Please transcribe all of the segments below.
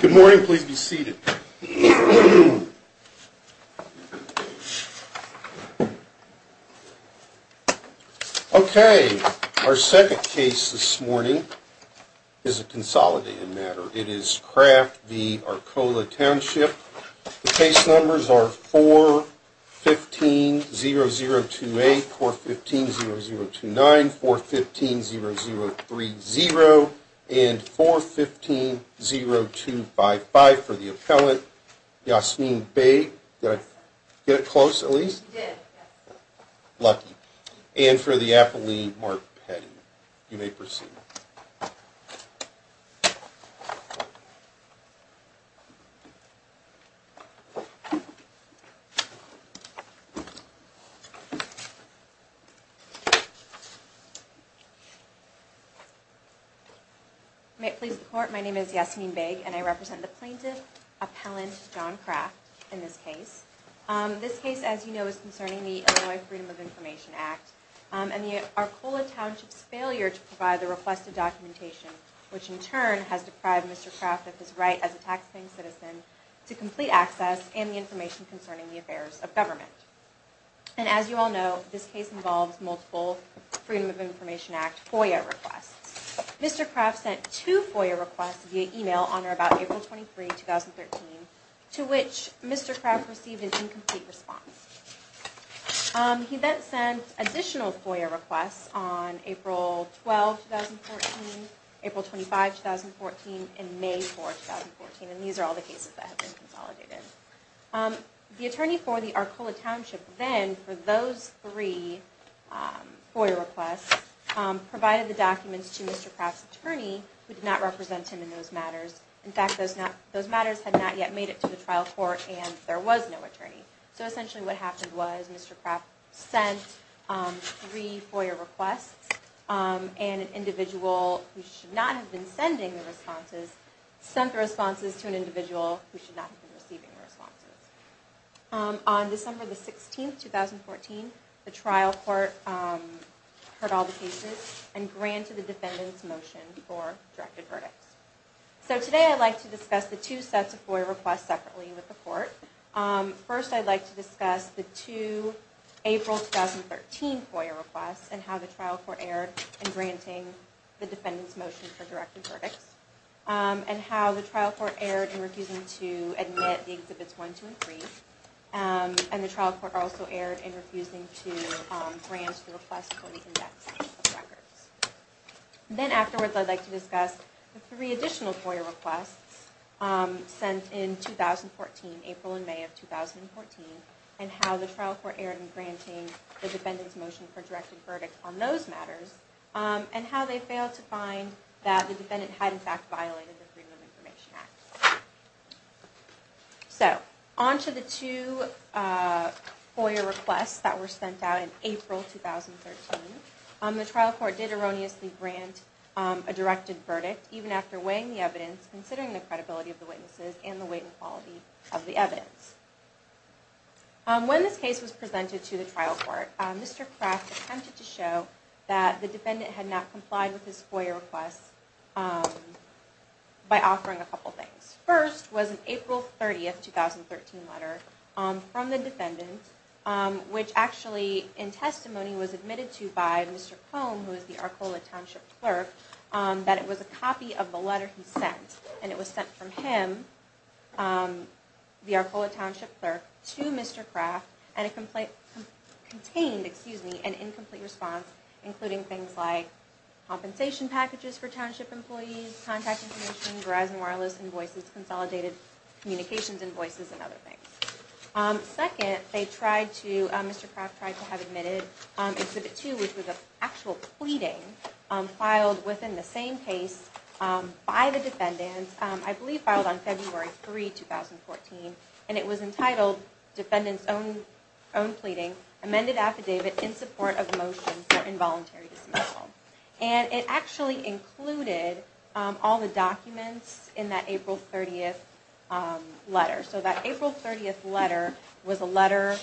Good morning, please be seated. Okay, our second case this morning is a consolidated matter. It is Kraft v. Arcola Township. The case numbers are 4-15-0028, 4-15-0029, 4-15-0030, and 4-15-0255 for the appellant Yasmeen Bey. Did I get it close, Elise? You did, yes. Lucky. And for the appellant Mark Petty. You may proceed. May it please the court, my name is Yasmeen Bey, and I represent the plaintiff, appellant John Kraft, in this case. This case, as you know, is concerning the Illinois Freedom of Information Act and the Arcola Township's failure to provide the requested documentation, which in turn has deprived Mr. Kraft of his right as a taxpaying citizen to complete access and the information concerning the affairs of government. And as you all know, this case involves multiple Freedom of Information Act FOIA requests. Mr. Kraft sent two FOIA requests via email on or about April 23, 2013, to which Mr. Kraft received an incomplete response. He then sent additional FOIA requests on April 12, 2014, April 25, 2014, and May 4, 2014. And these are all the cases that have been consolidated. The attorney for the Arcola Township then, for those three FOIA requests, provided the documents to Mr. Kraft's attorney, who did not represent him in those matters. In fact, those matters had not yet made it to the trial court, and there was no attorney. So essentially what happened was Mr. Kraft sent three FOIA requests, and an individual who should not have been sending the responses sent the responses to an individual who should not have been receiving the responses. On December 16, 2014, the trial court heard all the cases and granted the defendant's motion for directed verdicts. So today I'd like to discuss the two sets of FOIA requests separately with the court. First, I'd like to discuss the two April 2013 FOIA requests and how the trial court erred in granting the defendant's motion for directed verdicts, and how the trial court erred in refusing to admit the Exhibits 1, 2, and 3, and the trial court also erred in refusing to grant the request for the index of records. Then afterwards, I'd like to discuss the three additional FOIA requests sent in April and May of 2014, and how the trial court erred in granting the defendant's motion for directed verdict on those matters, and how they failed to find that the defendant had in fact violated the Freedom of Information Act. So, onto the two FOIA requests that were sent out in April 2013. The trial court did erroneously grant a directed verdict, even after weighing the evidence, considering the credibility of the witnesses, and the weight and quality of the evidence. When this case was presented to the trial court, Mr. Kraft attempted to show that the defendant had not complied with his FOIA requests by offering a couple things. The first was an April 30, 2013 letter from the defendant, which actually in testimony was admitted to by Mr. Cone, who is the Arcola Township Clerk, that it was a copy of the letter he sent. And it was sent from him, the Arcola Township Clerk, to Mr. Kraft, and it contained an incomplete response, including things like compensation packages for township employees, contact information, Verizon wireless invoices, consolidated communications invoices, and other things. Second, Mr. Kraft tried to have Admitted Exhibit 2, which was an actual pleading, filed within the same case by the defendant, I believe filed on February 3, 2014, and it was entitled, Defendant's Own Pleading, Amended Affidavit in Support of Motion for Involuntary Dismissal. And it actually included all the documents in that April 30th letter. So that April 30th letter was a letter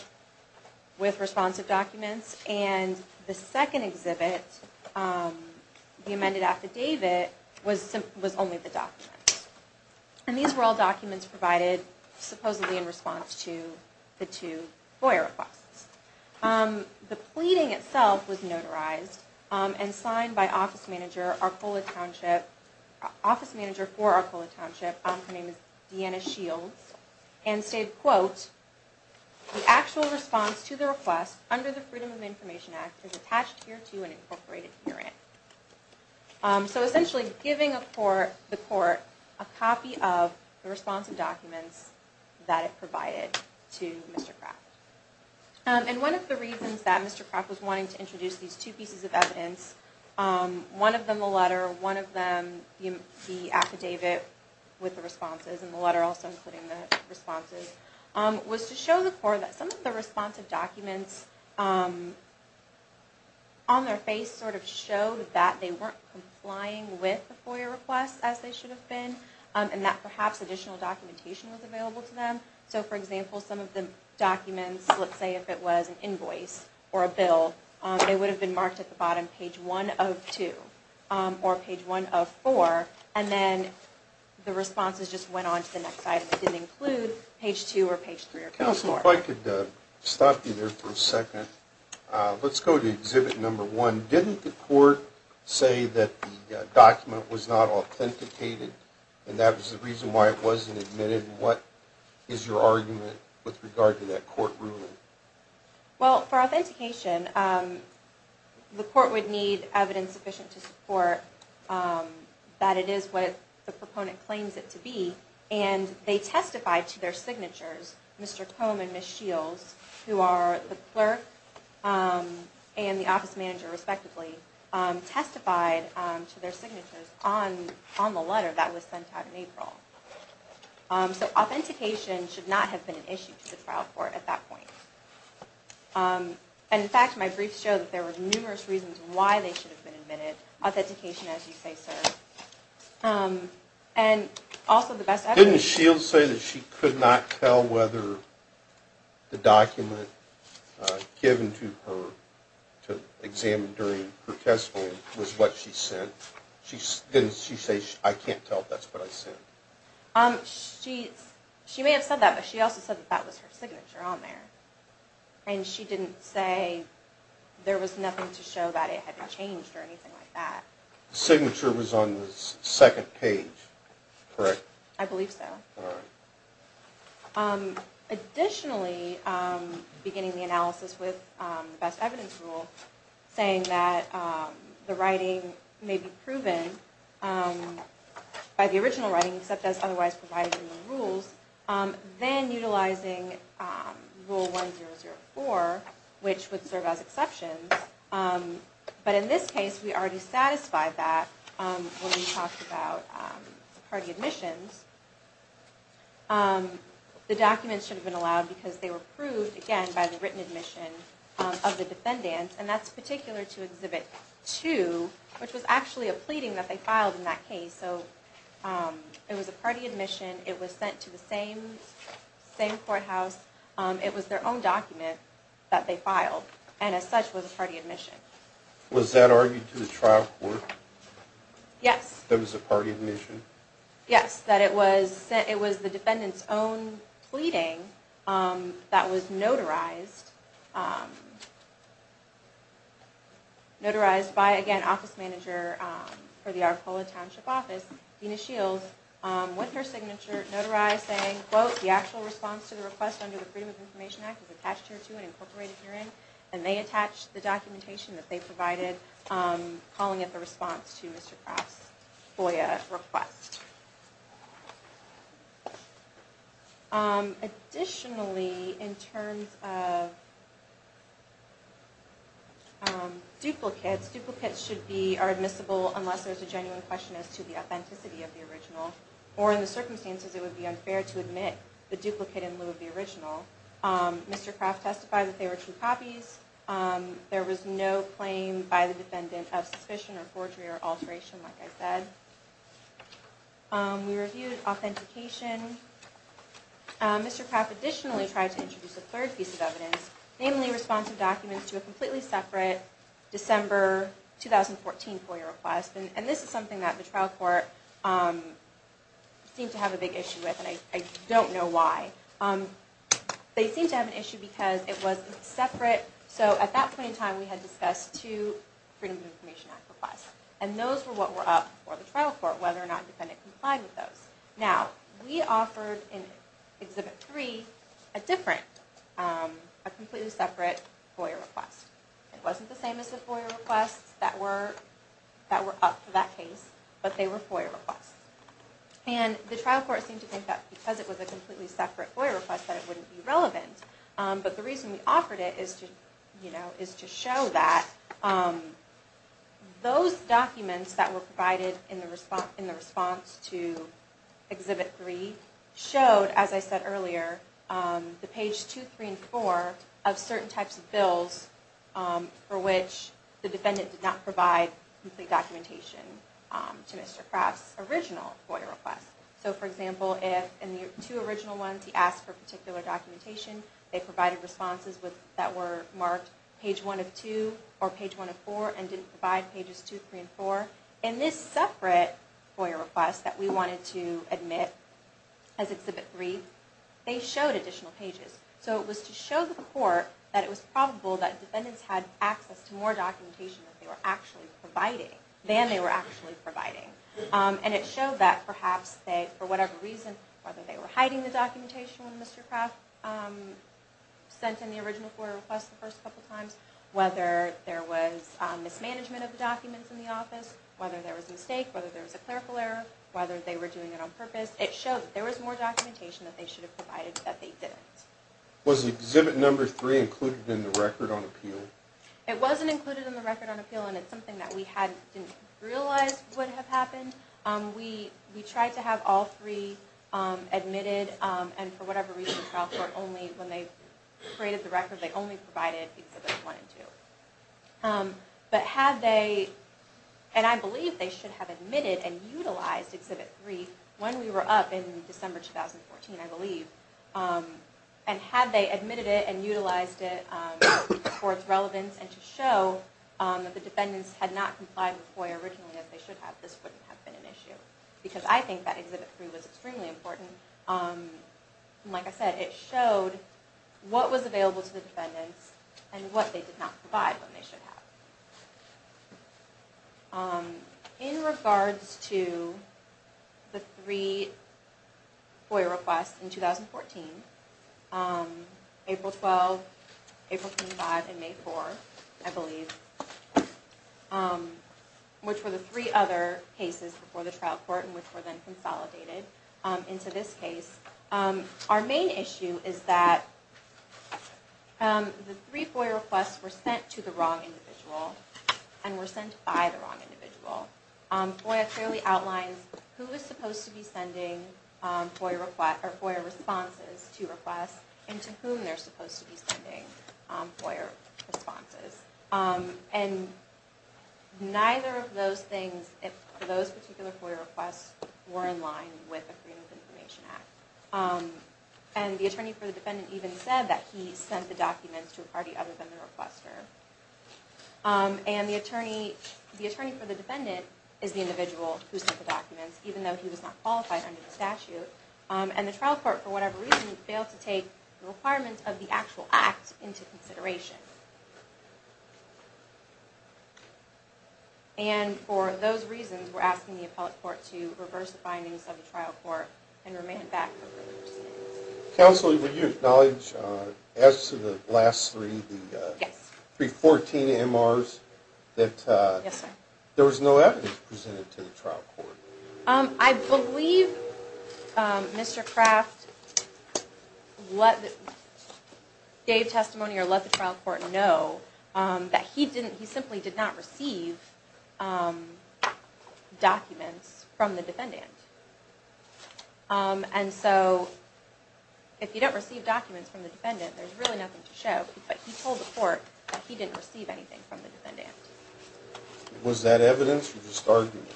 with responsive documents, and the second exhibit, the amended affidavit, was only the documents. And these were all documents provided supposedly in response to the two lawyer requests. The pleading itself was notarized and signed by office manager for Arcola Township, her name is Deanna Shields, and stated, quote, the actual response to the request under the Freedom of Information Act is attached here to an incorporated hearing. So essentially giving the court a copy of the responsive documents that it provided to Mr. Kraft. And one of the reasons that Mr. Kraft was wanting to introduce these two pieces of evidence, one of them the letter, one of them the affidavit with the responses, and the letter also including the responses, was to show the court that some of the responsive documents on their face sort of showed that they weren't complying with the FOIA requests as they should have been, and that perhaps additional documentation was available to them. So for example, some of the documents, let's say if it was an invoice or a bill, they would have been marked at the bottom, page one of two, or page one of four, and then the responses just went on to the next item. It didn't include page two or page three or page four. Counsel, if I could stop you there for a second. Let's go to exhibit number one. Didn't the court say that the document was not authenticated, and that was the reason why it wasn't admitted? And what is your argument with regard to that court ruling? Well, for authentication, the court would need evidence sufficient to support that it is what the proponent claims it to be, and they testified to their signatures, Mr. Combe and Ms. Shields, who are the clerk and the office manager respectively, testified to their signatures on the letter that was sent out in April. So authentication should not have been an issue to the trial court at that point. And in fact, my briefs show that there were numerous reasons why they should have been admitted. Authentication, as you say, sir, and also the best evidence. Didn't Shields say that she could not tell whether the document given to her to examine during her testimony was what she sent? Didn't she say, I can't tell if that's what I sent? She may have said that, but she also said that that was her signature on there. And she didn't say there was nothing to show that it had changed or anything like that. The signature was on the second page, correct? I believe so. Additionally, beginning the analysis with the best evidence rule, saying that the writing may be proven by the original writing, except as otherwise provided in the rules, then utilizing Rule 1004, which would serve as exceptions. But in this case, we already satisfied that when we talked about party admissions. The documents should have been allowed because they were proved, again, by the written admission of the defendants. And that's particular to Exhibit 2, which was actually a pleading that they filed in that case. So it was a party admission. It was sent to the same courthouse. It was their own document that they filed, and as such was a party admission. Was that argued to the trial court? Yes. That was a party admission? Yes, that it was the defendants' own pleading that was notarized by, again, Office Manager for the Arcola Township Office, Dena Shields, with her signature, notarized saying, quote, the actual response to the request under the Freedom of Information Act is attached hereto and incorporated herein. And they attached the documentation that they provided, calling it the response to Mr. Kraft's FOIA request. Additionally, in terms of duplicates, duplicates are admissible unless there's a genuine question as to the authenticity of the original. Or in the circumstances, it would be unfair to admit the duplicate in lieu of the original. Mr. Kraft testified that they were true copies. There was no claim by the defendant of suspicion or forgery or alteration, like I said. We reviewed authentication. Mr. Kraft additionally tried to introduce a third piece of evidence, namely responsive documents to a completely separate December 2014 FOIA request. And this is something that the trial court seemed to have a big issue with, and I don't know why. They seemed to have an issue because it was separate. So at that point in time, we had discussed two Freedom of Information Act requests. And those were what were up for the trial court, whether or not the defendant complied with those. Now, we offered in Exhibit 3 a different, a completely separate FOIA request. It wasn't the same as the FOIA requests that were up for that case, but they were FOIA requests. And the trial court seemed to think that because it was a completely separate FOIA request that it wouldn't be relevant. But the reason we offered it is to show that those documents that were provided in the response to Exhibit 3 showed, as I said earlier, the page 2, 3, and 4 of certain types of bills for which the defendant did not provide complete documentation to Mr. Kraft's original FOIA request. So, for example, in the two original ones, he asked for particular documentation. They provided responses that were marked page 1 of 2 or page 1 of 4 and didn't provide pages 2, 3, and 4. In this separate FOIA request that we wanted to admit as Exhibit 3, they showed additional pages. So it was to show the court that it was probable that defendants had access to more documentation than they were actually providing. And it showed that perhaps they, for whatever reason, whether they were hiding the documentation when Mr. Kraft sent in the original FOIA request the first couple times, whether there was mismanagement of the documents in the office, whether there was a mistake, whether there was a clerical error, whether they were doing it on purpose, it showed that there was more documentation that they should have provided that they didn't. Was Exhibit 3 included in the record on appeal? It wasn't included in the record on appeal, and it's something that we didn't realize would have happened. We tried to have all three admitted, and for whatever reason, trial court only, when they created the record, they only provided Exhibits 1 and 2. But had they, and I believe they should have admitted and utilized Exhibit 3 when we were up in December 2014, I believe, and had they admitted it and utilized it for its relevance and to show that the defendants had not complied with FOIA originally as they should have, this wouldn't have been an issue. Because I think that Exhibit 3 was extremely important. Like I said, it showed what was available to the defendants and what they did not provide when they should have. In regards to the three FOIA requests in 2014, April 12, April 25, and May 4, I believe, which were the three other cases before the trial court and which were then consolidated into this case, our main issue is that the three FOIA requests were sent to the wrong individual and were sent by the wrong individual. FOIA clearly outlines who is supposed to be sending FOIA responses to requests and to whom they're supposed to be sending FOIA responses. And neither of those things, those particular FOIA requests, were in line with the Freedom of Information Act. And the attorney for the defendant even said that he sent the documents to a party other than the requester. And the attorney for the defendant is the individual who sent the documents, even though he was not qualified under the statute. And the trial court, for whatever reason, failed to take the requirements of the actual act into consideration. And for those reasons, we're asking the appellate court to reverse the findings of the trial court and remand it back for further discussion. Counsel, would you acknowledge, as to the last three, the 314 MRs, that there was no evidence presented to the trial court? I believe Mr. Kraft gave testimony or let the trial court know that he simply did not receive documents from the defendant. And so, if you don't receive documents from the defendant, there's really nothing to show. But he told the court that he didn't receive anything from the defendant. Was that evidence or just argument?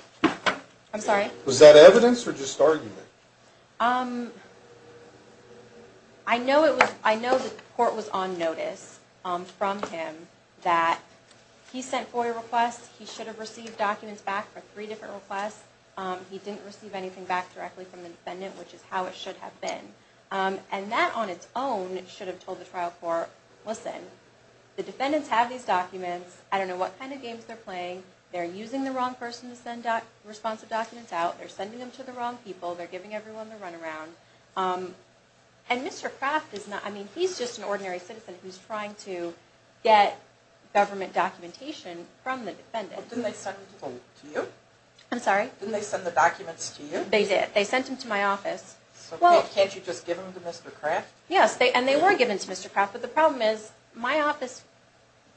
I'm sorry? Was that evidence or just argument? I know the court was on notice from him that he sent FOIA requests, he should have received documents back for three different requests, he didn't receive anything back directly from the defendant, which is how it should have been. And that on its own should have told the trial court, listen, the defendants have these documents, I don't know what kind of games they're playing, they're using the wrong person to send responsive documents out, they're sending them to the wrong people, they're giving everyone the run around. And Mr. Kraft is not, I mean, he's just an ordinary citizen who's trying to get government documentation from the defendant. Didn't they send them to you? I'm sorry? Didn't they send the documents to you? They did, they sent them to my office. So can't you just give them to Mr. Kraft? Yes, and they were given to Mr. Kraft, but the problem is my office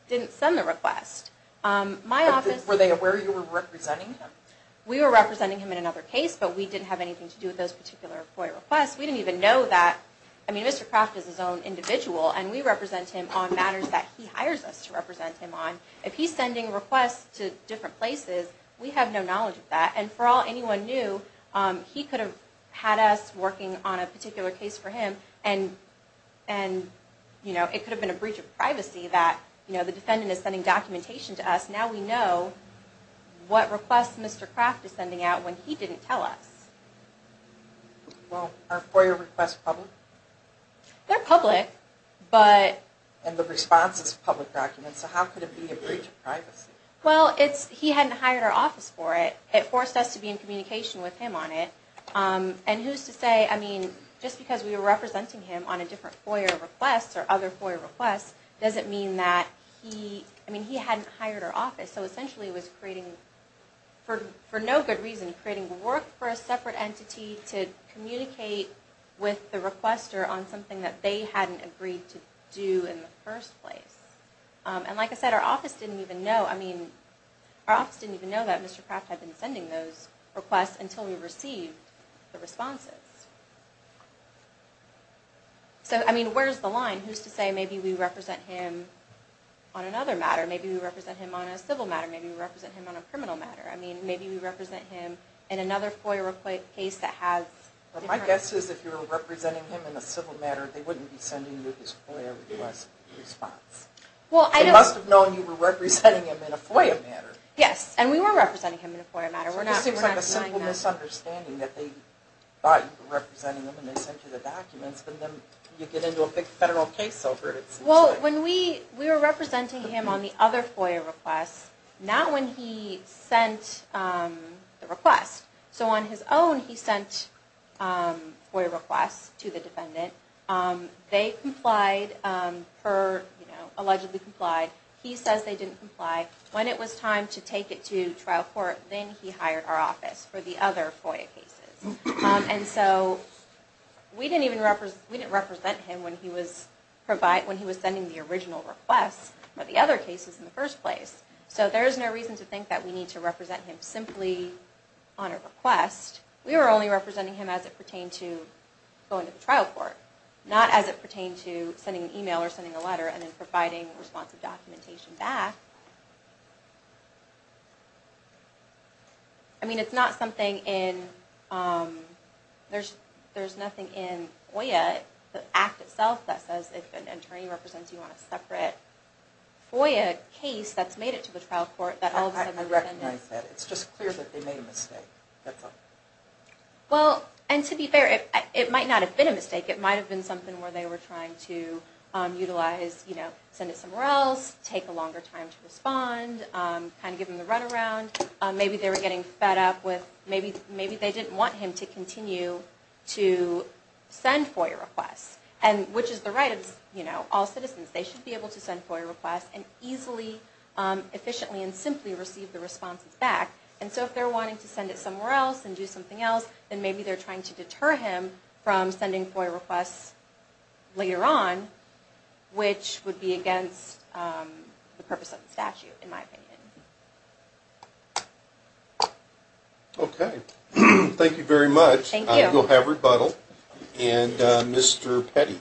didn't send the request. Were they aware you were representing him? We were representing him in another case, but we didn't have anything to do with those particular FOIA requests. We didn't even know that, I mean, Mr. Kraft is his own individual, and we represent him on matters that he hires us to represent him on. If he's sending requests to different places, we have no knowledge of that. And for all anyone knew, he could have had us working on a particular case for him, and it could have been a breach of privacy that the defendant is sending documentation to us, now we know what request Mr. Kraft is sending out when he didn't tell us. Well, are FOIA requests public? They're public, but... And the response is public documents, so how could it be a breach of privacy? Well, he hadn't hired our office for it. It forced us to be in communication with him on it. And who's to say, I mean, just because we were representing him on a different FOIA request, or other FOIA requests, doesn't mean that he, I mean, he hadn't hired our office. So essentially it was creating, for no good reason, creating work for a separate entity to communicate with the requester on something that they hadn't agreed to do in the first place. And like I said, our office didn't even know, I mean, our office didn't even know that Mr. Kraft had been sending those requests until we received the responses. So, I mean, where's the line? Who's to say maybe we represent him on another matter, maybe we represent him on a civil matter, maybe we represent him on a criminal matter, I mean, maybe we represent him in another FOIA case that has... My guess is if you were representing him in a civil matter, they wouldn't be sending you his FOIA request response. They must have known you were representing him in a FOIA matter. Yes, and we were representing him in a FOIA matter. So this seems like a simple misunderstanding that they thought you were representing him and they sent you the documents, but then you get into a big federal case over it. Well, when we were representing him on the other FOIA request, not when he sent the request. So on his own, he sent FOIA requests to the defendant. They complied, allegedly complied. He says they didn't comply. When it was time to take it to trial court, then he hired our office for the other FOIA cases. And so we didn't even represent him when he was sending the original request for the other cases in the first place. So there is no reason to think that we need to represent him simply on a request. We were only representing him as it pertained to going to the trial court, not as it pertained to sending an email or sending a letter and then providing responsive documentation back. I mean, it's not something in... There's nothing in FOIA, the act itself that says if an attorney represents you on a separate FOIA case that's made it to the trial court that all of a sudden... I recognize that. It's just clear that they made a mistake. Well, and to be fair, it might not have been a mistake. It might have been something where they were trying to utilize, you know, send it somewhere else, take a longer time to respond, kind of give him the runaround. Maybe they were getting fed up with... Maybe they didn't want him to continue to send FOIA requests, which is the right of all citizens. They should be able to send FOIA requests and easily, efficiently, and simply receive the responses back. And so if they're wanting to send it somewhere else and do something else, then maybe they're trying to deter him from sending FOIA requests later on, which would be against the purpose of the statute, in my opinion. Thank you. And we'll have rebuttal. And Mr. Petty.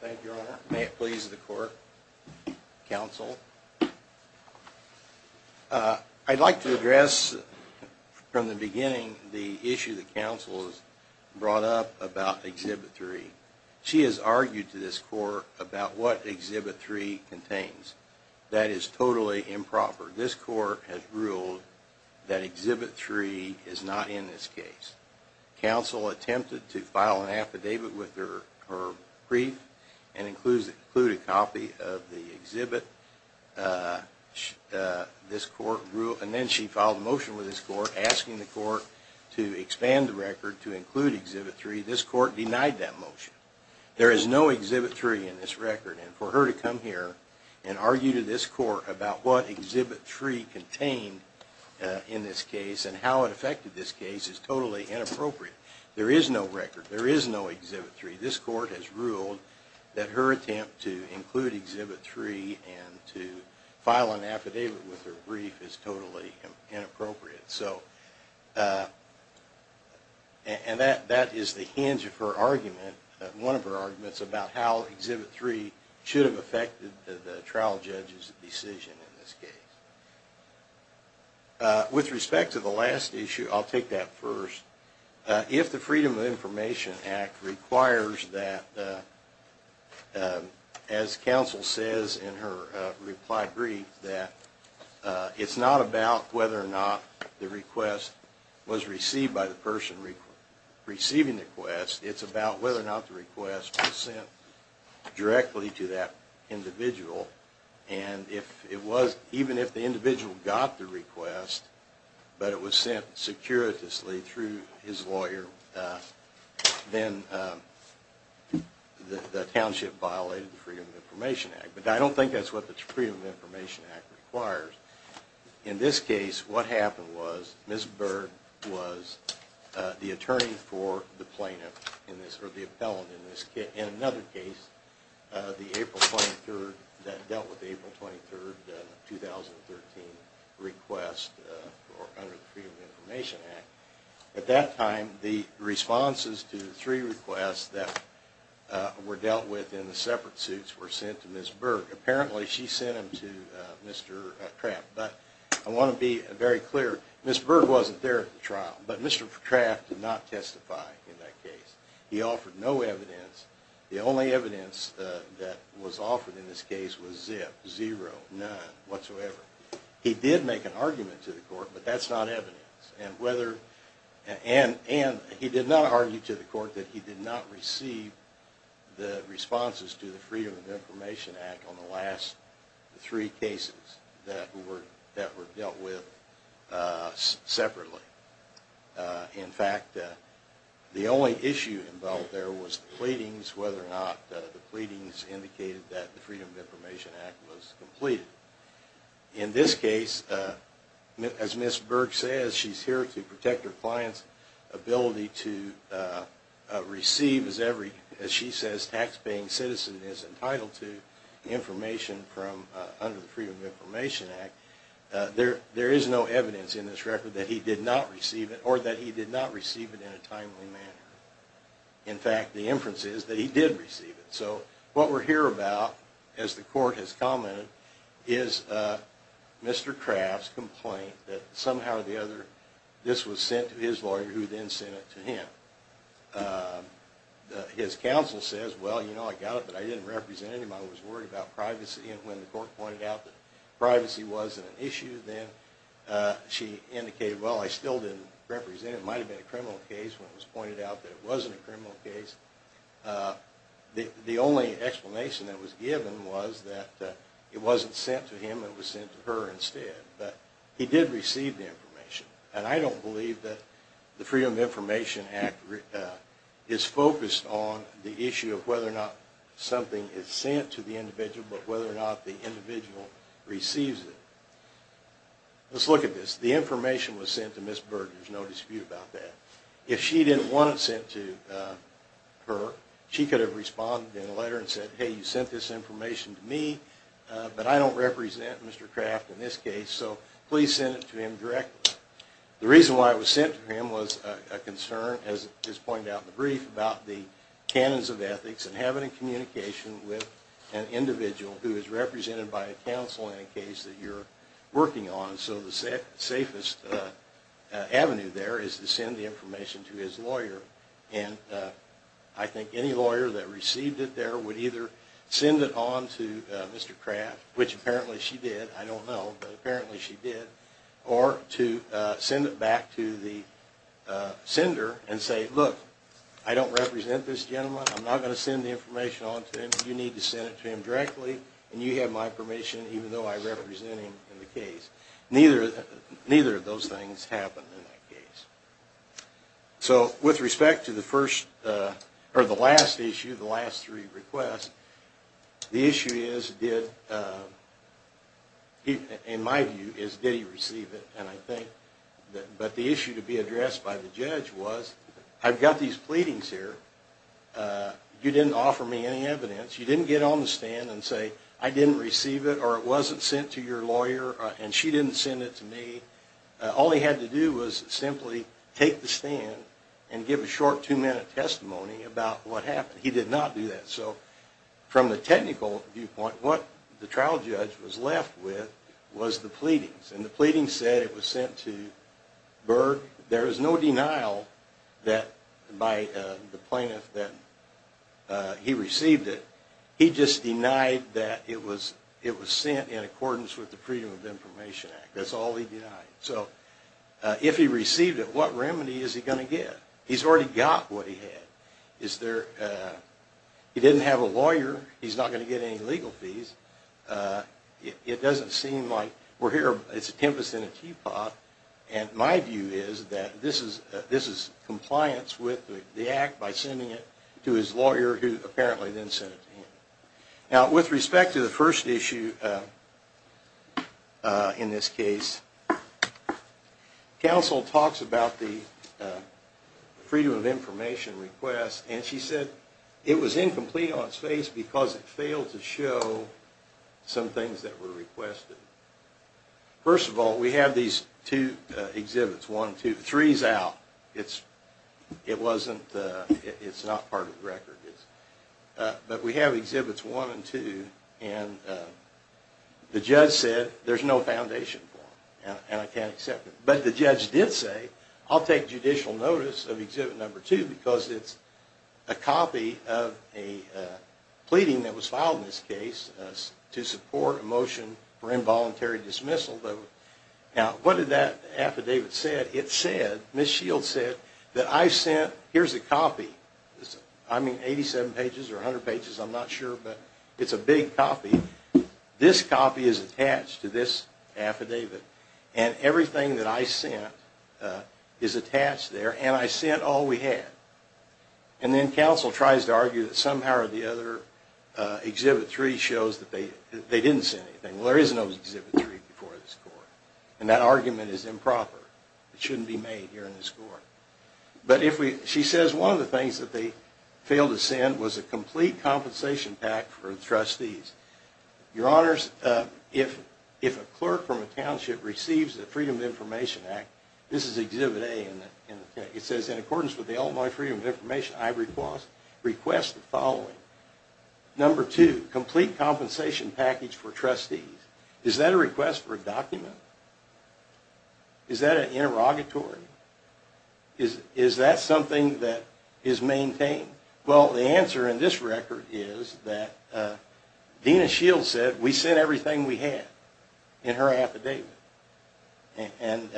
Thank you, Your Honor. May it please the court, counsel. I'd like to address from the beginning the issue that counsel has brought up about Exhibit 3. She has argued to this court about what Exhibit 3 contains. That is totally improper. This court has ruled that Exhibit 3 is not in this case. Counsel attempted to file an affidavit with her brief and include a copy of the exhibit. This court ruled... And then she filed a motion with this court asking the court to expand the record to include Exhibit 3. This court denied that motion. There is no Exhibit 3 in this record. And for her to come here and argue to this court about what Exhibit 3 contained in this case and how it affected this case is totally inappropriate. There is no record. There is no Exhibit 3. This court has ruled that her attempt to include Exhibit 3 and to file an affidavit with her brief is totally inappropriate. And that is the hinge of her argument, one of her arguments, about how Exhibit 3 should have affected the trial judge's decision in this case. With respect to the last issue, I'll take that first. If the Freedom of Information Act requires that, as counsel says in her reply brief, that it's not about whether or not the request was received by the person receiving the request. It's about whether or not the request was sent directly to that individual. And even if the individual got the request, but it was sent securitously through his lawyer, then the township violated the Freedom of Information Act. But I don't think that's what the Freedom of Information Act requires. In this case, what happened was Ms. Berg was the attorney for the plaintiff, or the appellant in this case, in another case, the April 23rd, that dealt with the April 23rd, 2013 request under the Freedom of Information Act. At that time, the responses to three requests that were dealt with in the separate suits were sent to Ms. Berg. Apparently, she sent them to Mr. Kraft. But I want to be very clear, Ms. Berg wasn't there at the trial, but Mr. Kraft did not testify in that case. He offered no evidence. The only evidence that was offered in this case was zip, zero, none, whatsoever. He did make an argument to the court, but that's not evidence. And he did not argue to the court that he did not receive the responses to the Freedom of Information Act on the last three cases that were dealt with separately. In fact, the only issue involved there was the pleadings, whether or not the pleadings indicated that the Freedom of Information Act was completed. In this case, as Ms. Berg says, she's here to protect her client's ability to receive, as she says, taxpaying citizen is entitled to information under the Freedom of Information Act. There is no evidence in this record that he did not receive it, or that he did not receive it in a timely manner. In fact, the inference is that he did receive it. So what we're here about, as the court has commented, is Mr. Kraft's complaint that somehow or the other this was sent to his lawyer, who then sent it to him. His counsel says, well, you know, I got it, but I didn't represent him. I was worried about privacy. And when the court pointed out that privacy wasn't an issue, then she indicated, well, I still didn't represent him. It might have been a criminal case when it was pointed out that it wasn't a criminal case. The only explanation that was given was that it wasn't sent to him. It was sent to her instead. But he did receive the information. And I don't believe that the Freedom of Information Act is focused on the issue of whether or not something is sent to the individual, but whether or not the individual receives it. Let's look at this. The information was sent to Ms. Berg. There's no dispute about that. If she didn't want it sent to her, she could have responded in a letter and said, hey, you sent this information to me, but I don't represent Mr. Kraft in this case, so please send it to him directly. The reason why it was sent to him was a concern, as pointed out in the brief, about the canons of ethics and having a communication with an individual who is represented by a counsel in a case that you're working on. So the safest avenue there is to send the information to his lawyer. And I think any lawyer that received it there would either send it on to Mr. Kraft, which apparently she did, I don't know, but apparently she did, or to send it back to the sender and say, look, I don't represent this gentleman. I'm not going to send the information on to him. You need to send it to him directly, and you have my permission, even though I represent him in the case. Neither of those things happened in that case. So with respect to the last issue, the last three requests, the issue is, in my view, did he receive it. But the issue to be addressed by the judge was, I've got these pleadings here. You didn't offer me any evidence. You didn't get on the stand and say, I didn't receive it, or it wasn't sent to your lawyer, and she didn't send it to me. All he had to do was simply take the stand and give a short two-minute testimony about what happened. He did not do that. So from the technical viewpoint, what the trial judge was left with was the pleadings. And the pleadings said it was sent to Berg. There is no denial by the plaintiff that he received it. He just denied that it was sent in accordance with the Freedom of Information Act. That's all he denied. So if he received it, what remedy is he going to get? He's already got what he had. He didn't have a lawyer. He's not going to get any legal fees. It doesn't seem like we're here. It's a tempest in a teapot. And my view is that this is compliance with the act by sending it to his lawyer, who apparently then sent it to him. Now, with respect to the first issue in this case, counsel talks about the Freedom of Information request, and she said it was incomplete on its face because it failed to show some things that were requested. First of all, we have these two exhibits, one, two. Three is out. It's not part of the record. But we have exhibits one and two, and the judge said there's no foundation for them, and I can't accept it. But the judge did say, I'll take judicial notice of exhibit number two because it's a copy of a pleading that was filed in this case to support a motion for involuntary dismissal. Now, what did that affidavit say? It said, Ms. Shields said, that I sent, here's a copy. I mean, 87 pages or 100 pages, I'm not sure, but it's a big copy. This copy is attached to this affidavit, and everything that I sent is attached there, and I sent all we had. And then counsel tries to argue that somehow or the other, exhibit three shows that they didn't send anything. Well, there is no exhibit three before this court, and that argument is improper. It shouldn't be made here in this court. But she says one of the things that they failed to send was a complete compensation pack for the trustees. Your Honors, if a clerk from a township receives the Freedom of Information Act, this is exhibit A, and it says, in accordance with the Illinois Freedom of Information Act, I request the following. Number two, complete compensation package for trustees. Is that a request for a document? Is that an interrogatory? Is that something that is maintained? Well, the answer in this record is that Dena Shields said, we sent everything we had in her affidavit. And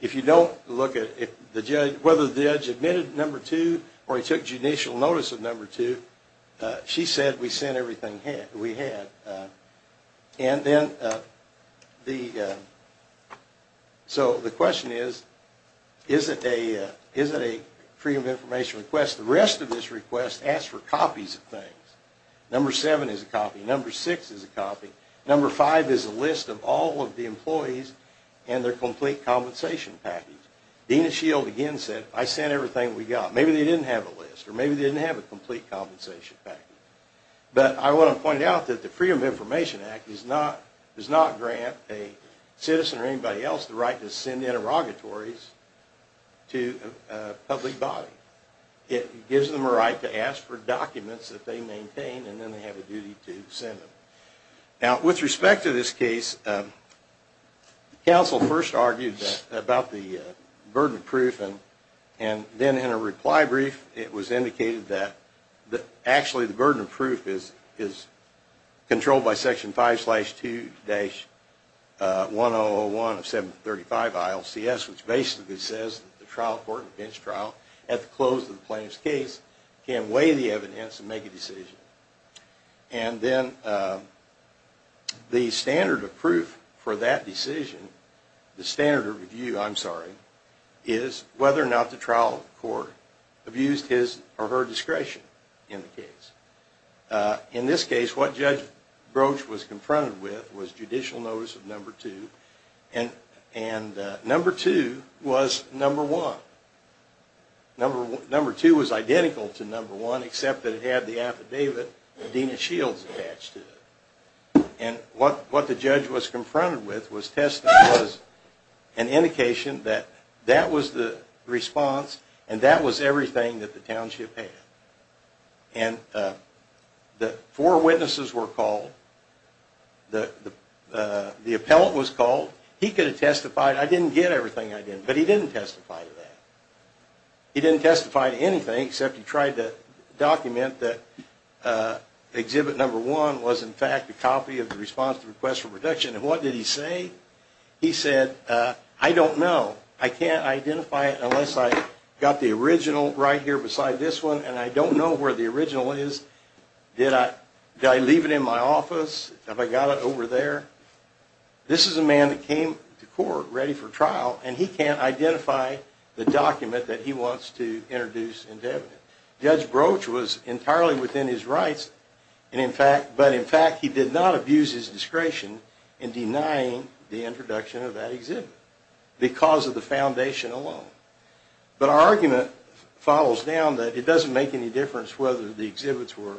if you don't look at whether the judge admitted number two or he took judicial notice of number two, she said we sent everything we had. And then, so the question is, is it a Freedom of Information request? The rest of this request asks for copies of things. Number seven is a copy, number six is a copy, number five is a list of all of the employees and their complete compensation package. Dena Shields again said, I sent everything we got. Maybe they didn't have a list, or maybe they didn't have a complete compensation package. But I want to point out that the Freedom of Information Act does not grant a citizen or anybody else the right to send interrogatories to a public body. It gives them a right to ask for documents that they maintain and then they have a duty to send them. Now, with respect to this case, counsel first argued about the burden of proof and then in a reply brief it was indicated that actually the burden of proof is controlled by Section 5-2-1001 of 735 ILCS which basically says that the trial court and the bench trial at the close of the plaintiff's case can weigh the evidence and make a decision. And then the standard of proof for that decision, the standard of review, I'm sorry, is whether or not the trial court abused his or her discretion in the case. In this case, what Judge Broach was confronted with was judicial notice of number 2 and number 2 was number 1. Number 2 was identical to number 1, except that it had the affidavit of Dena Shields attached to it. And what the judge was confronted with was testing was an indication that that was the response and that was everything that the township had. And the four witnesses were called. The appellant was called. He could have testified, I didn't get everything I did, but he didn't testify to that. He didn't testify to anything except he tried to document that exhibit number 1 was in fact a copy of the response to request for protection. And what did he say? He said, I don't know. I can't identify it unless I got the original right here beside this one, and I don't know where the original is. Did I leave it in my office? Have I got it over there? This is a man that came to court ready for trial, and he can't identify the document that he wants to introduce into evidence. Judge Broach was entirely within his rights, but in fact he did not abuse his discretion in denying the introduction of that exhibit because of the foundation alone. But our argument follows down that it doesn't make any difference whether the exhibits were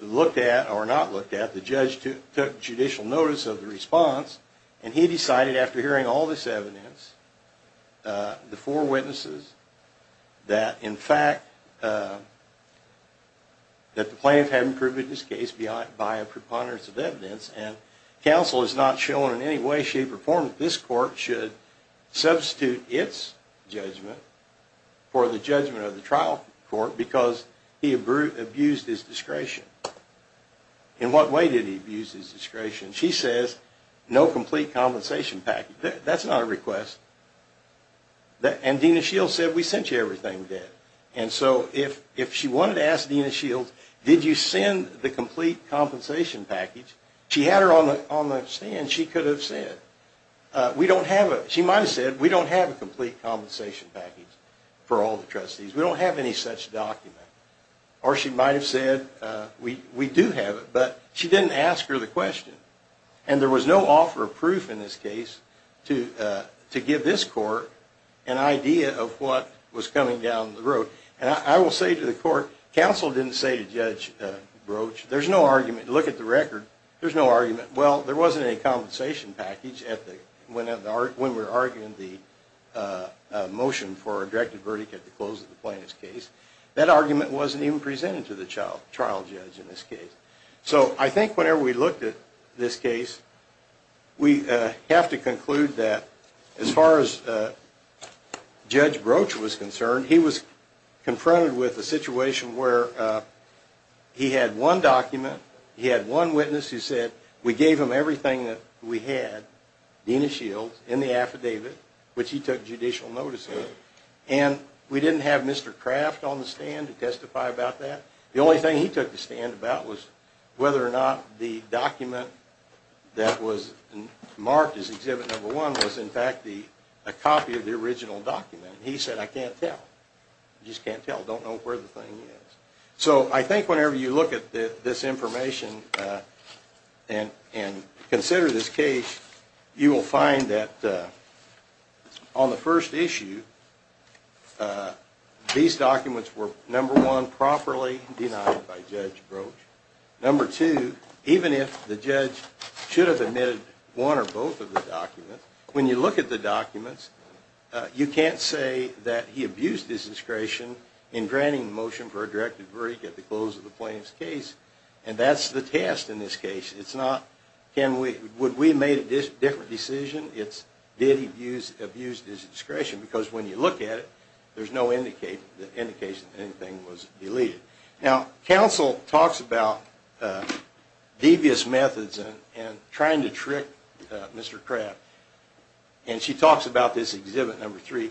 looked at or not looked at. The judge took judicial notice of the response, and he decided after hearing all this evidence, the four witnesses, that in fact the plaintiff hadn't proven his case by a preponderance of evidence, and counsel has not shown in any way, shape, or form that this court should substitute its judgment for the judgment of the trial court because he abused his discretion. In what way did he abuse his discretion? She says no complete compensation package. That's not a request. And Dena Shields said, we sent you everything, Dad. And so if she wanted to ask Dena Shields, did you send the complete compensation package? She had her on the stand. She could have said, we don't have it. She might have said, we don't have a complete compensation package for all the trustees. We don't have any such document. Or she might have said, we do have it, but she didn't ask her the question. And there was no offer of proof in this case to give this court an idea of what was coming down the road. And I will say to the court, counsel didn't say to Judge Broach, there's no argument. Look at the record. There's no argument. Well, there wasn't any compensation package when we were arguing the motion for a directed verdict at the close of the plaintiff's case. That argument wasn't even presented to the trial judge in this case. So I think whenever we looked at this case, we have to conclude that as far as Judge Broach was concerned, he was confronted with a situation where he had one document, he had one witness who said, we gave him everything that we had, Dena Shields, in the affidavit, which he took judicial notice of. And we didn't have Mr. Craft on the stand to testify about that. The only thing he took to stand about was whether or not the document that was marked as Exhibit No. 1 was, in fact, a copy of the original document. He said, I can't tell. I just can't tell. I don't know where the thing is. So I think whenever you look at this information and consider this case, you will find that on the first issue, these documents were, number one, properly denied by Judge Broach. Number two, even if the judge should have admitted one or both of the documents, when you look at the documents, you can't say that he abused his discretion in granting the motion for a directed verdict at the close of the plaintiff's case. And that's the test in this case. It's not, would we have made a different decision? It's, did he abuse his discretion? Because when you look at it, there's no indication that anything was deleted. Now, counsel talks about devious methods and trying to trick Mr. Craft. And she talks about this Exhibit No. 3,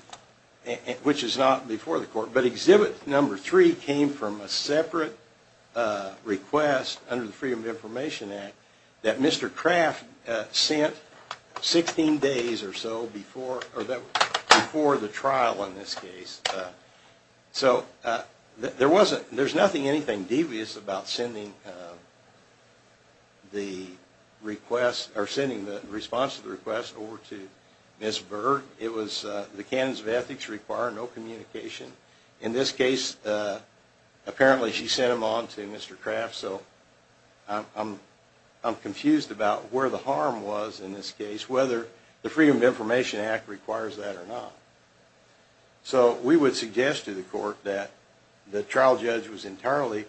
which is not before the court. But Exhibit No. 3 came from a separate request under the Freedom of Information Act that Mr. Craft sent 16 days or so before the trial in this case. So there wasn't, there's nothing anything devious about sending the request, or sending the response to the request over to Ms. Berg. It was the canons of ethics require no communication. In this case, apparently she sent them on to Mr. Craft. So I'm confused about where the harm was in this case, whether the Freedom of Information Act requires that or not. So we would suggest to the court that the trial judge was entirely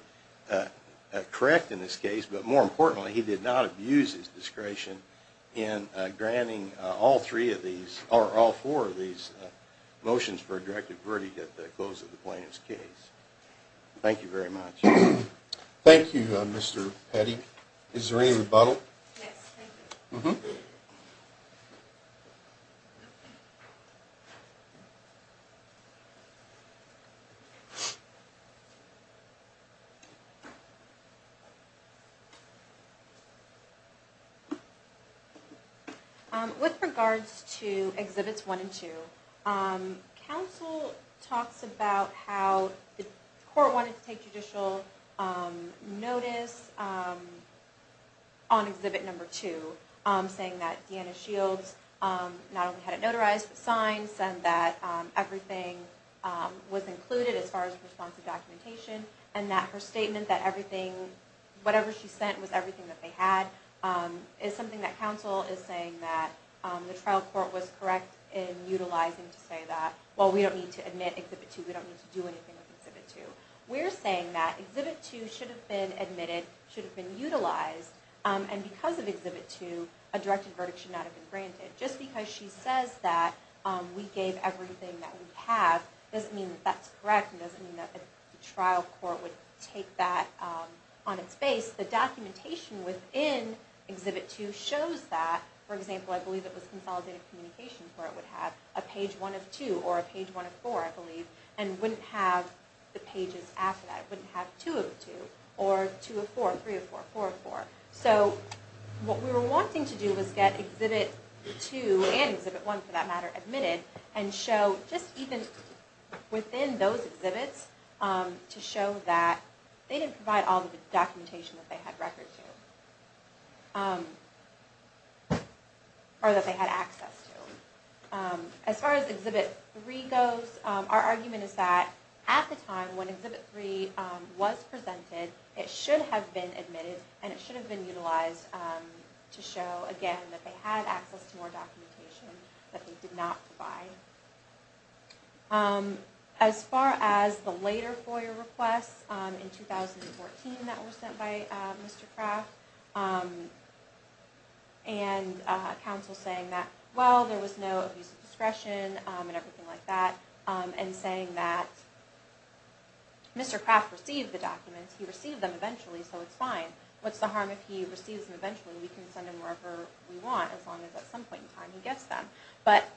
correct in this case, but more importantly, he did not abuse his discretion in granting all three of these, or all four of these motions for a directed verdict at the close of the plaintiff's case. Thank you very much. Thank you, Mr. Petty. Is there any rebuttal? Yes, thank you. With regards to Exhibits 1 and 2, counsel talks about how the court wanted to take judicial notice on Exhibit 2, saying that Deanna Shields not only had it notarized, but signed, said that everything was included as far as responsive documentation, and that her statement that everything, whatever she sent was everything that they had, is something that counsel is saying that the trial court was correct in utilizing to say that, well, we don't need to admit Exhibit 2, we don't need to do anything with Exhibit 2. We're saying that Exhibit 2 should have been admitted, should have been utilized, and because of Exhibit 2, a directed verdict should not have been granted. Just because she says that we gave everything that we have, doesn't mean that that's correct and doesn't mean that the trial court would take that on its face. The documentation within Exhibit 2 shows that, for example, I believe it was Consolidated Communications where it would have a page 1 of 2, or a page 1 of 4, I believe, and wouldn't have the pages after that. It wouldn't have 2 of 2, or 2 of 4, 3 of 4, 4 of 4. So what we were wanting to do was get Exhibit 2 and Exhibit 1, for that matter, admitted, and show just even within those exhibits, to show that they didn't provide all of the documentation that they had records to, or that they had access to. As far as Exhibit 3 goes, our argument is that, at the time when Exhibit 3 was presented, it should have been admitted and it should have been utilized to show, again, that they had access to more documentation that they did not provide. As far as the later FOIA requests, in 2014 that were sent by Mr. Kraft, and counsel saying that, well, there was no abuse of discretion and everything like that, and saying that Mr. Kraft received the documents, he received them eventually, so it's fine. What's the harm if he receives them eventually? We can send them wherever we want as long as at some point in time he gets them. But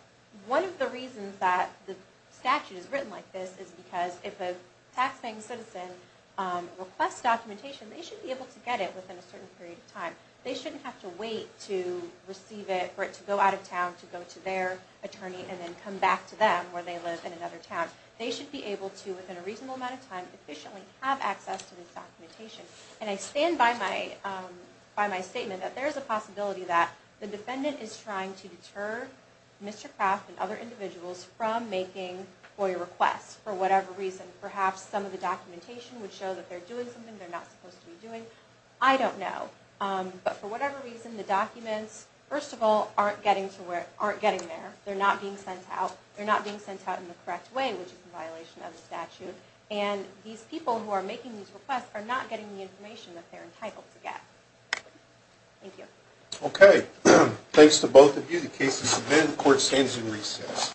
one of the reasons that the statute is written like this is because if a taxpaying citizen requests documentation, they should be able to get it within a certain period of time. They shouldn't have to wait to receive it, for it to go out of town, to go to their attorney, and then come back to them where they live in another town. They should be able to, within a reasonable amount of time, efficiently have access to this documentation. And I stand by my statement that there is a possibility that the defendant is trying to deter Mr. Kraft and other individuals from making FOIA requests for whatever reason. Perhaps some of the documentation would show that they're doing something they're not supposed to be doing. I don't know. But for whatever reason, the documents, first of all, aren't getting there. They're not being sent out. They're not being sent out in the correct way, which is in violation of the statute. And these people who are making these requests are not getting the information that they're entitled to get. Thank you. Okay. Thanks to both of you. The case is submitted. The court stands in recess.